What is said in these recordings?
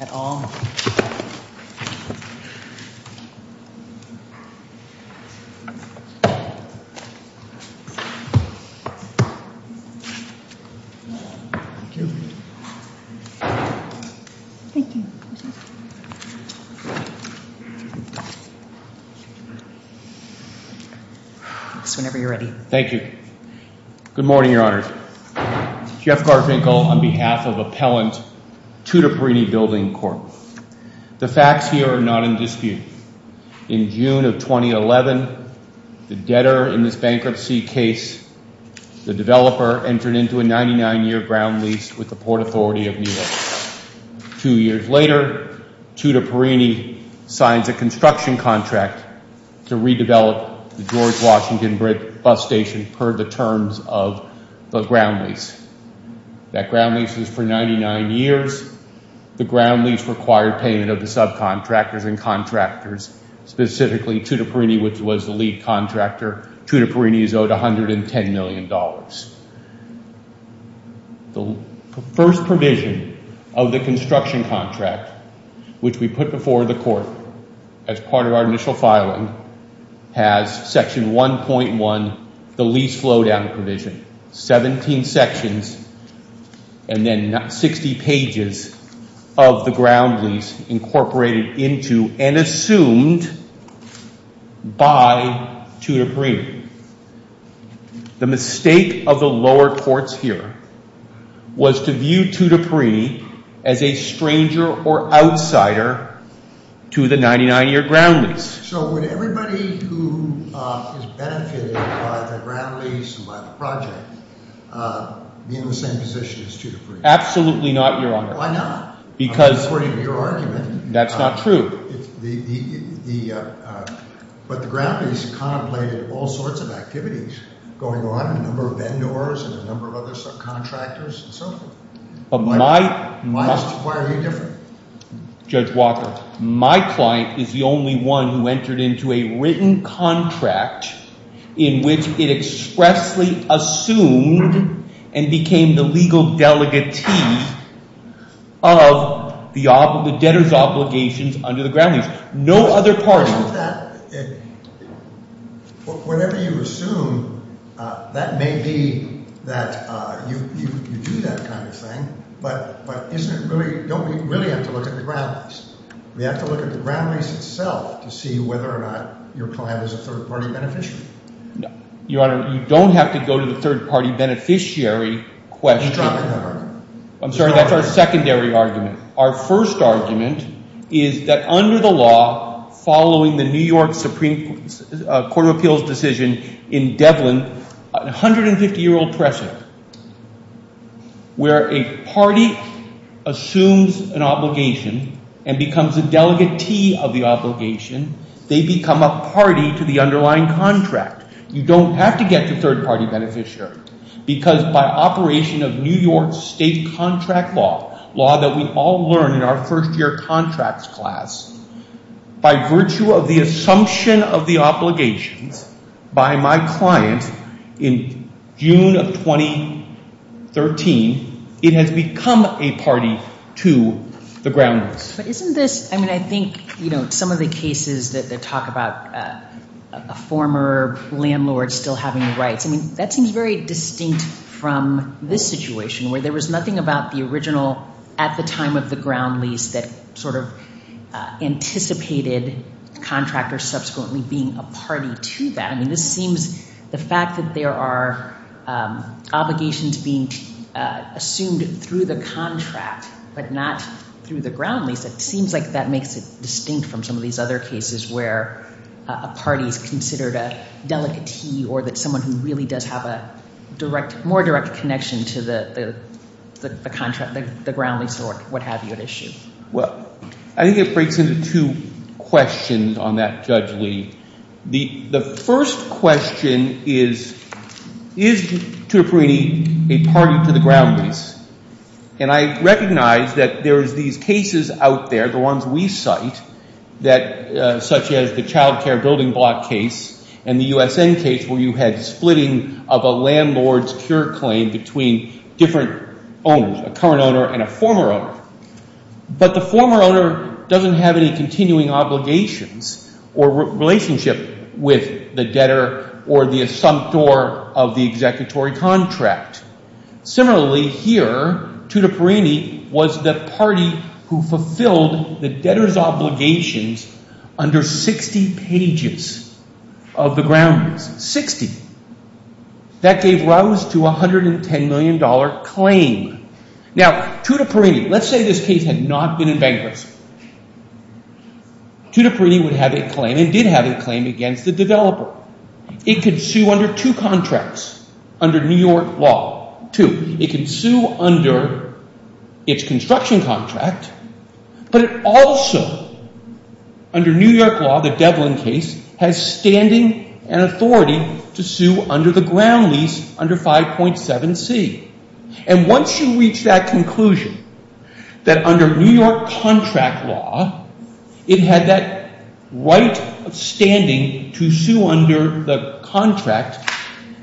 at all. Thank you. Whenever you are ready. Thank you. Thank you. Thank you. Thank you. Good morning, Your Honors. Jeff Garvinkel on behalf of Appellant Tutiparini Building Corp. The facts here are not in dispute. In June of 2011, the debtor in this bankruptcy case, the developer, entered into a 99-year ground lease with the Port Authority of New York. Two years later, Tutiparini signs a construction contract to redevelop the George Washington Bridge bus station per the terms of the ground lease. That ground lease is for 99 years. The ground lease required payment of the subcontractors and contractors, specifically Tutiparini, which was the lead contractor. Tutiparini is owed $110 million. The first provision of the construction contract, which we put before the court as part of our initial filing, has Section 1.1, the lease flow down provision. 17 sections and then 60 pages of the ground lease incorporated into and assumed by Tutiparini. The mistake of the lower courts here was to view Tutiparini as a stranger or outsider to the 99-year ground lease. So would everybody who is benefited by the ground lease and by the project be in the same position as Tutiparini? Absolutely not, Your Honor. Why not? Because... According to your argument... That's not true. But the ground lease contemplated all sorts of activities going on, a number of vendors and a number of other subcontractors and so forth. Why are you different? Judge Walker, my client is the only one who entered into a written contract in which it expressly assumed and became the legal delegatee of the debtor's obligations under the ground lease. No other parties... Whatever you assume, that may be that you do that kind of thing, but don't we really have to look at the ground lease? We have to look at the ground lease itself to see whether or not your client is a third-party beneficiary. Your Honor, you don't have to go to the third-party beneficiary question. I'm sorry, that's our secondary argument. Our first argument is that under the law, following the New York Supreme Court of Appeals decision in Devlin, a 150-year-old precedent where a party assumes an obligation and becomes a delegatee of the obligation, they become a party to the underlying contract. You don't have to get the third-party beneficiary because by operation of New York State contract law, law that we all learned in our first-year contracts class, by virtue of the assumption of the obligations by my client in June of 2013, it has become a party to the ground lease. But isn't this... I mean, I think, you know, some of the cases that talk about a former landlord still having rights, I mean, that seems very distinct from this situation where there was nothing about the original at the time of the ground lease that sort of anticipated contractors subsequently being a party to that. I mean, this seems the fact that there are obligations being assumed through the contract but not through the ground lease, it seems like that makes it distinct from some of these other cases where a party is considered a delegatee or that someone who really does have a more direct connection to the contract, the ground lease or what have you at issue. Well, I think it breaks into two questions on that, Judge Lee. The first question is, is Tutteferini a party to the ground lease? And I recognize that there is these cases out there, the ones we cite, such as the child care building block case and the USN case where you had splitting of a landlord's pure claim between different owners, a current owner and a former owner. But the former owner doesn't have any continuing obligations or relationship with the debtor or the assumptor of the executory contract. Similarly, here, Tutteferini was the party who fulfilled the debtor's obligations under 60 pages of the ground lease, 60. That gave rise to a $110 million claim. Now, Tutteferini, let's say this case had not been in bankruptcy. Tutteferini would have a claim and did have a claim against the developer. It could sue under two contracts under New York law, two. It can sue under its construction contract, but it also, under New York law, the Devlin case, has standing and authority to sue under the ground lease under 5.7c. And once you reach that conclusion, that under New York contract law, it had that right of standing to sue under the contract,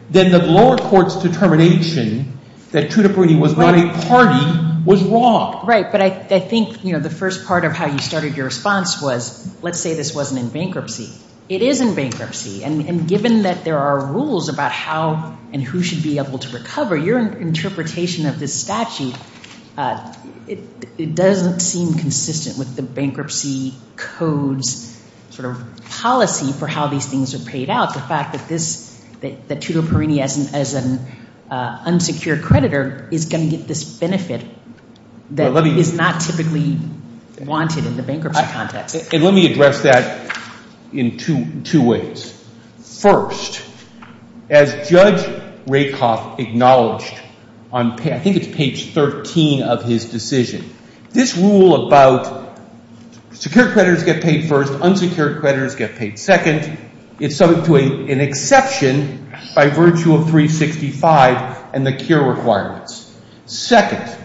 then the lower court's determination that Tutteferini was not a party was wrong. Right, but I think the first part of how you started your response was, let's say this wasn't in bankruptcy. It is in bankruptcy, and given that there are rules about how and who should be able to recover, your interpretation of this statute, it doesn't seem consistent with the bankruptcy code's sort of policy for how these things are paid out. The fact that this, that Tutteferini, as an unsecured creditor, is going to get this benefit that is not typically wanted in the bankruptcy context. And let me address that in two ways. First, as Judge Rakoff acknowledged on, I think it's page 13 of his decision, this rule about secured creditors get paid first, unsecured creditors get paid second, is subject to an exception by virtue of 365 and the CURE requirements. Second,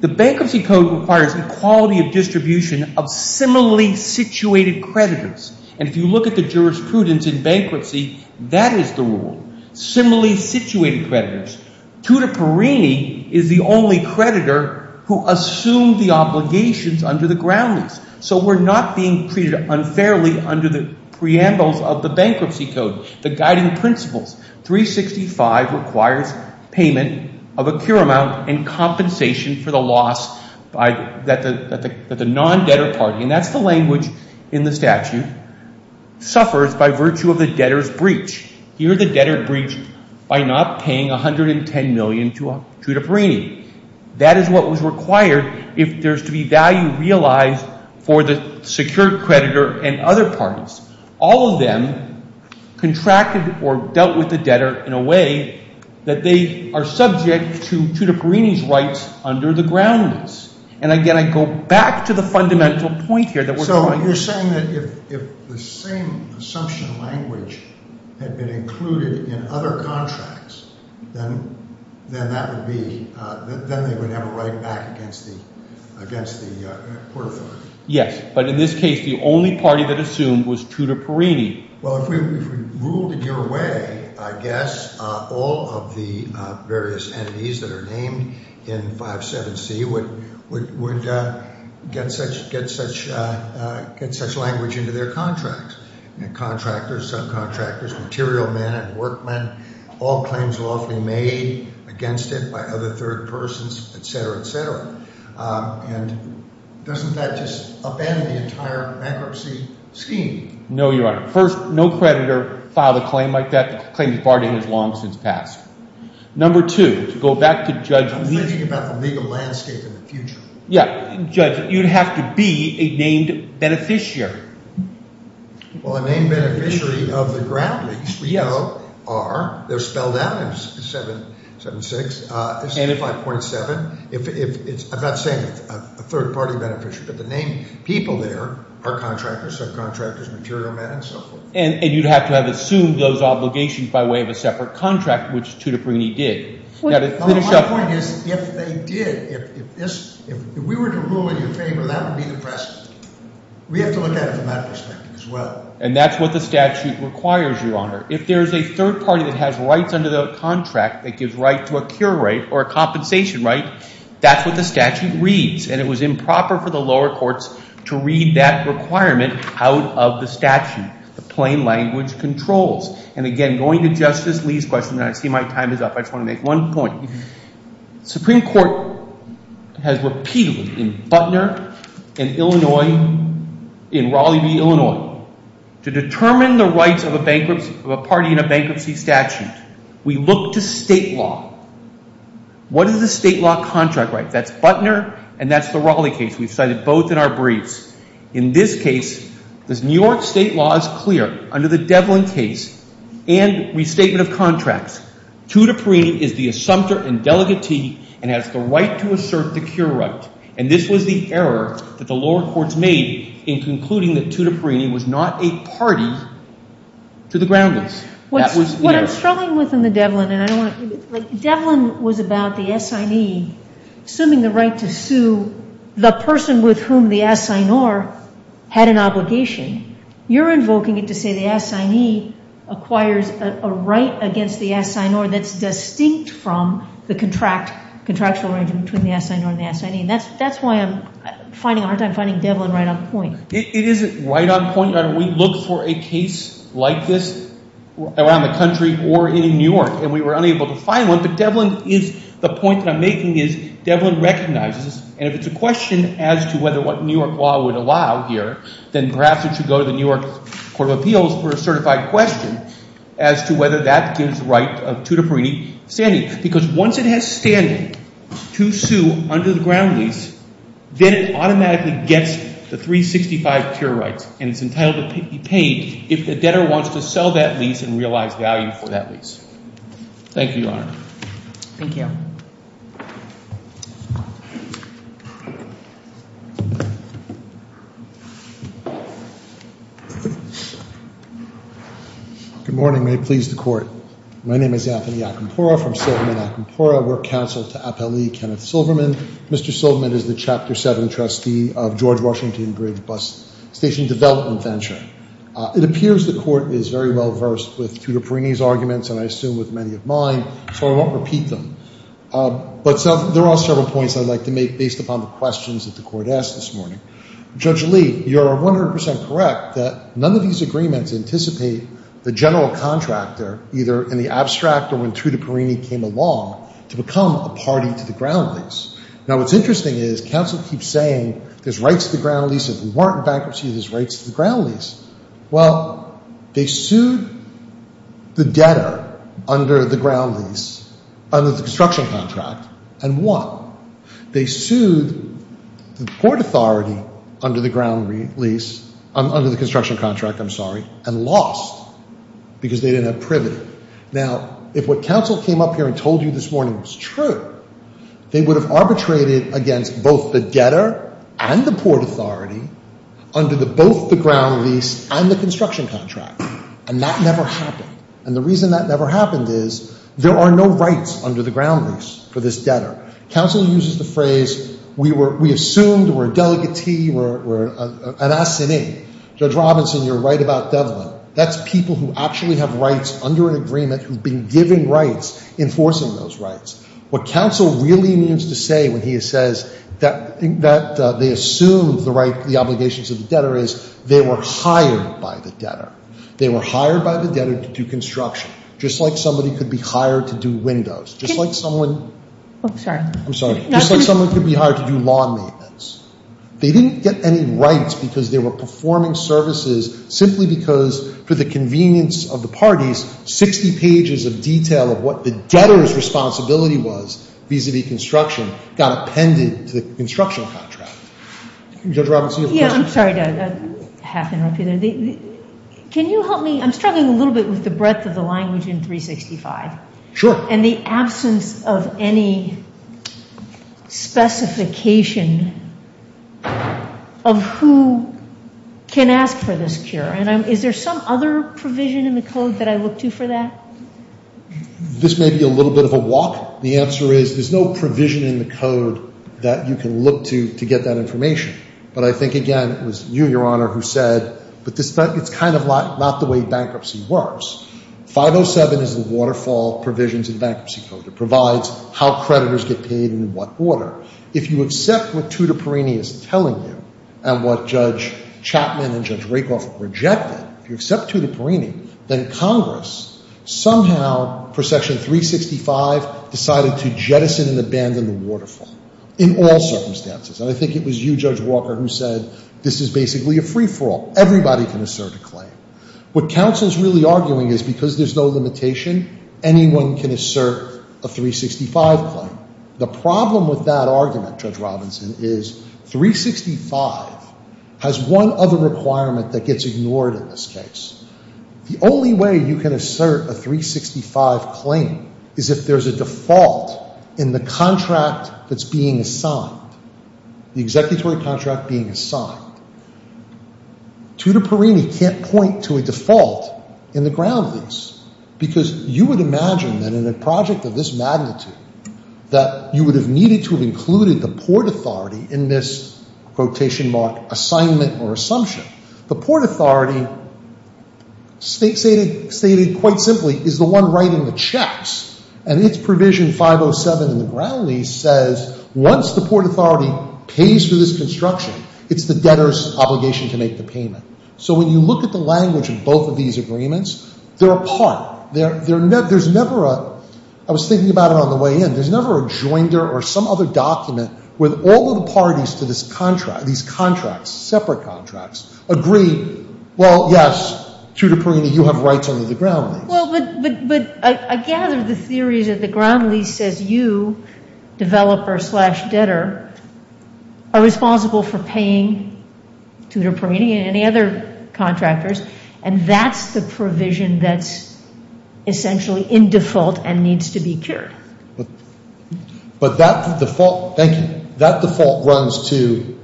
the bankruptcy code requires equality of distribution of similarly situated creditors. And if you look at the jurisprudence in bankruptcy, that is the rule, similarly situated creditors. Tutteferini is the only creditor who assumed the obligations under the groundings, so we're not being treated unfairly under the preambles of the bankruptcy code, the guiding principles. 365 requires payment of a CURE amount and compensation for the loss that the non-debtor party, and that's the language in the statute, suffers by virtue of the debtor's breach. Here the debtor breached by not paying $110 million to Tutteferini. That is what was required if there's to be value realized for the secured creditor and other parties. All of them contracted or dealt with the debtor in a way that they are subject to Tutteferini's rights under the groundings. And again, I go back to the fundamental point here that we're trying to— So you're saying that if the same assumption language had been included in other contracts, then that would be—then they would have a right back against the portafolio. Yes, but in this case, the only party that assumed was Tutteferini. Well, if we ruled in your way, I guess all of the various entities that are named in 57C would get such language into their contracts. Contractors, subcontractors, material men and workmen, all claims lawfully made against it by other third persons, etc., etc. And doesn't that just abandon the entire bankruptcy scheme? No, Your Honor. First, no creditor filed a claim like that. The claim is barred and has long since passed. Number two, to go back to Judge— I'm thinking about the legal landscape in the future. Yeah. Judge, you'd have to be a named beneficiary. Well, a named beneficiary of the ground lease, we know, are—they're spelled out in 776, 65.7. I'm not saying a third-party beneficiary, but the named people there are contractors, subcontractors, material men, and so forth. And you'd have to have assumed those obligations by way of a separate contract, which Tutteferini did. My point is, if they did, if this—if we were to rule in your favor, that would be the precedent. We have to look at it from that perspective as well. And that's what the statute requires, Your Honor. If there's a third party that has rights under the contract that gives right to a cure rate or a compensation right, that's what the statute reads. And it was improper for the lower courts to read that requirement out of the statute. The plain language controls. And again, going to Justice Lee's question, and I see my time is up, I just want to make one point. The Supreme Court has repeatedly, in Butner and Illinois, in Raleigh v. Illinois, to determine the rights of a bankruptcy—of a party in a bankruptcy statute. We look to state law. What is the state law contract right? That's Butner, and that's the Raleigh case. We've cited both in our briefs. In this case, the New York state law is clear. Under the Devlin case and restatement of contracts, Tutta Parini is the assumptor and delegatee and has the right to assert the cure right. And this was the error that the lower courts made in concluding that Tutta Parini was not a party to the groundless. What I'm struggling with in the Devlin, and I don't want to—Devlin was about the assignee assuming the right to sue the person with whom the assignor had an obligation. You're invoking it to say the assignee acquires a right against the assignor that's distinct from the contractual arrangement between the assignor and the assignee. And that's why I'm finding—I'm finding Devlin right on point. It isn't right on point. We look for a case like this around the country or in New York, and we were unable to find one. But Devlin is—the point that I'm making is Devlin recognizes, and if it's a question as to whether what New York law would allow here, then perhaps it should go to the New York Court of Appeals for a certified question as to whether that gives right of Tutta Parini standing. Because once it has standing to sue under the ground lease, then it automatically gets the 365 pure rights, and it's entitled to be paid if the debtor wants to sell that lease and realize value for that lease. Thank you, Your Honor. Thank you. Good morning. May it please the Court. My name is Anthony Acampora from Silverman Acampora. We're counsel to Appellee Kenneth Silverman. Mr. Silverman is the Chapter 7 trustee of George Washington Bridge Bus Station Development Venture. It appears the Court is very well versed with Tutta Parini's arguments and I assume with many of mine, so I won't repeat them. But there are several points I'd like to make based upon the questions that the Court asked this morning. Judge Lee, you are 100 percent correct that none of these agreements anticipate the general contractor, either in the abstract or when Tutta Parini came along, to become a party to the ground lease. Now, what's interesting is counsel keeps saying there's rights to the ground lease. If we weren't in bankruptcy, there's rights to the ground lease. Well, they sued the debtor under the ground lease, under the construction contract, and won. They sued the port authority under the ground lease, under the construction contract, I'm sorry, and lost because they didn't have privity. Now, if what counsel came up here and told you this morning was true, they would have arbitrated against both the debtor and the port authority under both the ground lease and the construction contract. And that never happened. And the reason that never happened is there are no rights under the ground lease for this debtor. Counsel uses the phrase, we assumed we're a delegatee, we're an assignee. Judge Robinson, you're right about Devlin. That's people who actually have rights under an agreement who've been given rights enforcing those rights. What counsel really means to say when he says that they assumed the obligations of the debtor is they were hired by the debtor. They were hired by the debtor to do construction, just like somebody could be hired to do windows, just like someone— I'm sorry. I'm sorry. Just like someone could be hired to do lawn maintenance. They didn't get any rights because they were performing services simply because, for the convenience of the parties, 60 pages of detail of what the debtor's responsibility was vis-a-vis construction got appended to the construction contract. Judge Robinson, you have a question? Yeah, I'm sorry to have to interrupt you there. Can you help me? I'm struggling a little bit with the breadth of the language in 365. Sure. And the absence of any specification of who can ask for this cure. And is there some other provision in the code that I look to for that? This may be a little bit of a walk. The answer is there's no provision in the code that you can look to to get that information. But I think, again, it was you, Your Honor, who said, but it's kind of not the way bankruptcy works. 507 is the Waterfall Provisions in the Bankruptcy Code. It provides how creditors get paid and in what order. If you accept what Tutta Perini is telling you and what Judge Chapman and Judge Rakoff rejected, if you accept Tutta Perini, then Congress somehow, for Section 365, decided to jettison and abandon the Waterfall in all circumstances. And I think it was you, Judge Walker, who said this is basically a free-for-all. Everybody can assert a claim. What counsel is really arguing is because there's no limitation, anyone can assert a 365 claim. The problem with that argument, Judge Robinson, is 365 has one other requirement that gets ignored in this case. The only way you can assert a 365 claim is if there's a default in the contract that's being assigned, the executory contract being assigned. Tutta Perini can't point to a default in the ground lease because you would imagine that in a project of this magnitude that you would have needed to have included the Port Authority in this quotation mark assignment or assumption. The Port Authority stated quite simply is the one writing the checks, and its provision 507 in the ground lease says once the Port Authority pays for this construction, it's the debtor's obligation to make the payment. So when you look at the language of both of these agreements, they're apart. There's never a – I was thinking about it on the way in. There's never a joinder or some other document where all of the parties to this contract, these contracts, separate contracts, agree, well, yes, Tutta Perini, you have rights under the ground lease. Well, but I gather the theory is that the ground lease says you, developer slash debtor, are responsible for paying Tutta Perini and any other contractors, and that's the provision that's essentially in default and needs to be cured. But that default – thank you – that default runs to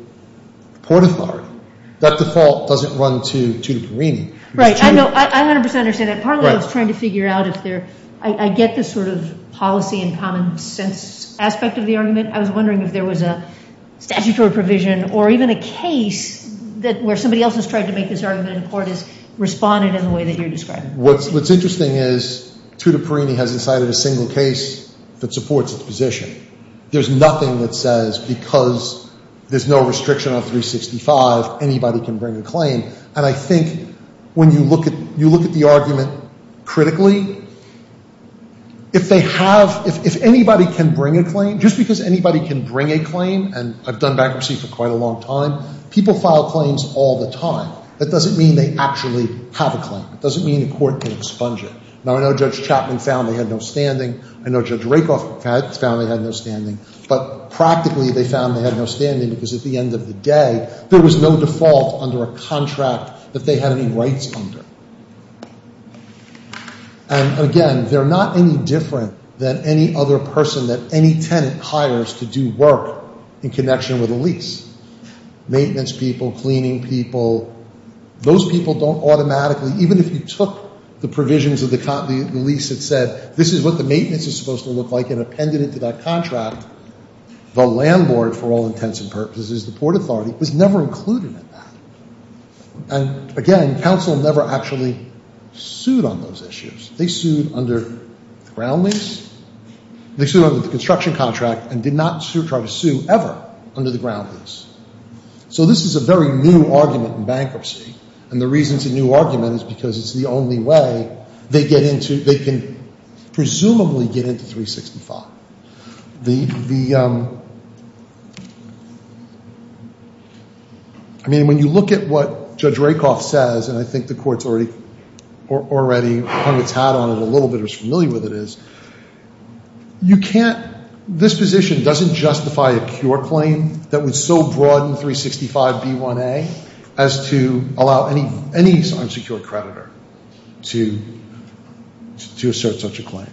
Port Authority. That default doesn't run to Tutta Perini. Right. I know – I 100 percent understand that. Part of what I was trying to figure out if there – I get the sort of policy and common sense aspect of the argument. I was wondering if there was a statutory provision or even a case that – where somebody else has tried to make this argument in court has responded in the way that you're describing. What's interesting is Tutta Perini has decided a single case that supports its position. There's nothing that says because there's no restriction on 365, anybody can bring a claim. And I think when you look at – you look at the argument critically, if they have – if anybody can bring a claim, just because anybody can bring a claim, and I've done bankruptcy for quite a long time, people file claims all the time. That doesn't mean they actually have a claim. It doesn't mean a court can expunge it. Now, I know Judge Chapman found they had no standing. I know Judge Rakoff found they had no standing. But practically they found they had no standing because at the end of the day, there was no default under a contract that they had any rights under. And, again, they're not any different than any other person that any tenant hires to do work in connection with a lease. Maintenance people, cleaning people, those people don't automatically – even if you took the provisions of the lease that said, this is what the maintenance is supposed to look like, and appended it to that contract, the landlord, for all intents and purposes, the Port Authority, was never included in that. And, again, counsel never actually sued on those issues. They sued under the ground lease. They sued under the construction contract and did not try to sue ever under the ground lease. So this is a very new argument in bankruptcy. And the reason it's a new argument is because it's the only way they get into – the – I mean, when you look at what Judge Rakoff says, and I think the Court's already hung its hat on it a little bit or is familiar with it is, you can't – this position doesn't justify a cure claim that would so broaden 365b1a as to allow any unsecured creditor to assert such a claim.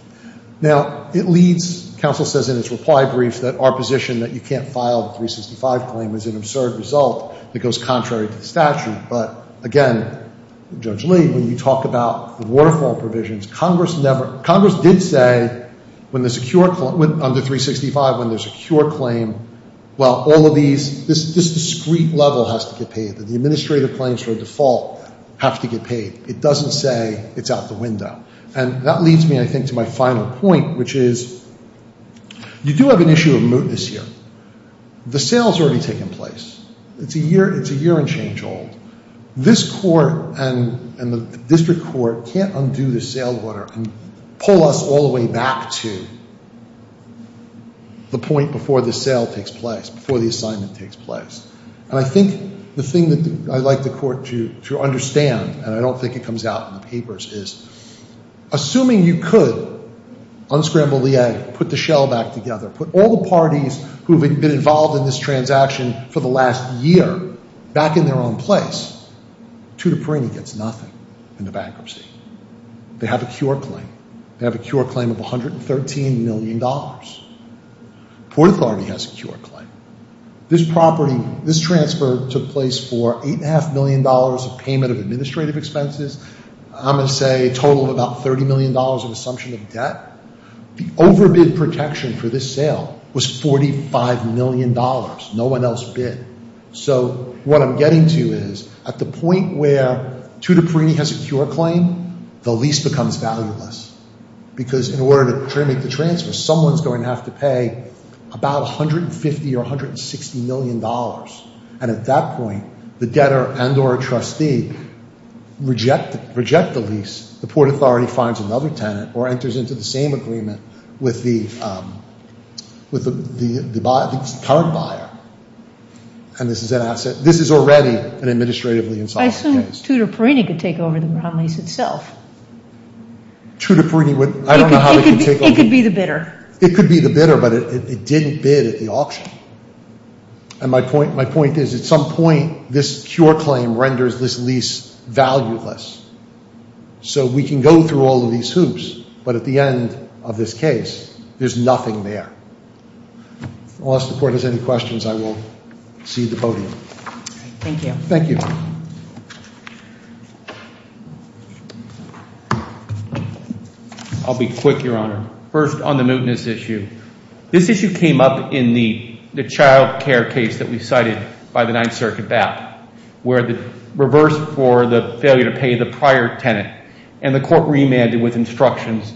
Now, it leads – counsel says in its reply brief that our position that you can't file the 365 claim is an absurd result that goes contrary to the statute. But, again, Judge Lee, when you talk about the waterfall provisions, Congress never – Congress did say when the secure – under 365, when there's a cure claim, well, all of these – this discrete level has to get paid. The administrative claims for a default have to get paid. It doesn't say it's out the window. And that leads me, I think, to my final point, which is you do have an issue of mootness here. The sale's already taken place. It's a year and change old. This Court and the district court can't undo the sale order and pull us all the way back to the point before the sale takes place, before the assignment takes place. And I think the thing that I'd like the Court to understand, and I don't think it comes out in the papers, is assuming you could unscramble the egg, put the shell back together, put all the parties who've been involved in this transaction for the last year back in their own place, Tutor Perini gets nothing in the bankruptcy. They have a cure claim. They have a cure claim of $113 million. Port Authority has a cure claim. This property, this transfer took place for $8.5 million of payment of administrative expenses. I'm going to say a total of about $30 million in assumption of debt. The overbid protection for this sale was $45 million. No one else bid. So what I'm getting to is at the point where Tutor Perini has a cure claim, the lease becomes valueless because in order to make the transfer, someone's going to have to pay about $150 or $160 million. And at that point, the debtor and or a trustee reject the lease. The Port Authority finds another tenant or enters into the same agreement with the current buyer. And this is an asset. This is already an administratively insolvent case. Tutor Perini could take over the lease itself. Tutor Perini would. It could be the bidder. It could be the bidder, but it didn't bid at the auction. And my point is at some point, this cure claim renders this lease valueless. So we can go through all of these hoops, but at the end of this case, there's nothing there. Unless the court has any questions, I will cede the podium. Thank you. Thank you. I'll be quick, Your Honor. First, on the mootness issue. This issue came up in the child care case that we cited by the Ninth Circuit bat, where the reverse for the failure to pay the prior tenant, and the court remanded with instructions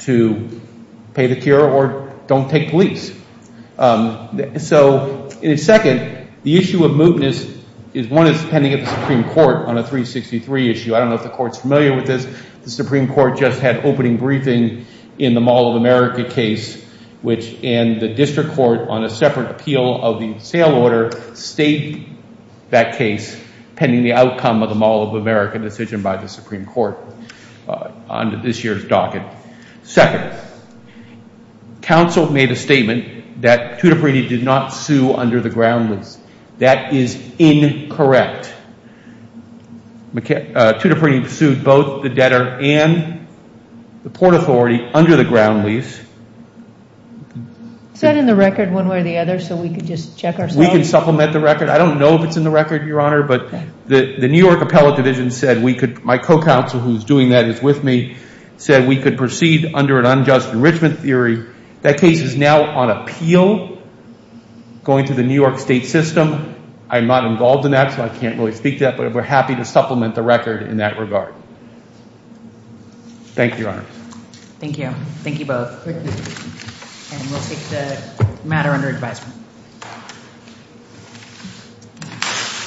to pay the cure or don't take the lease. So second, the issue of mootness is one that's pending at the Supreme Court on a 363 issue. I don't know if the court's familiar with this. The Supreme Court just had opening briefing in the Mall of America case, which in the district court on a separate appeal of the sale order, state that case pending the outcome of the Mall of America decision by the Supreme Court on this year's docket. Second, counsel made a statement that Tudiprede did not sue under the ground lease. That is incorrect. Tudiprede sued both the debtor and the port authority under the ground lease. Is that in the record one way or the other so we can just check ourselves? We can supplement the record. I don't know if it's in the record, Your Honor, but the New York Appellate Division said we could, my co-counsel who's doing that is with me, said we could proceed under an unjust enrichment theory. That case is now on appeal going to the New York state system. I'm not involved in that, so I can't really speak to that, but we're happy to supplement the record in that regard. Thank you, Your Honor. Thank you. Thank you both. Thank you. And we'll take the matter under advisement.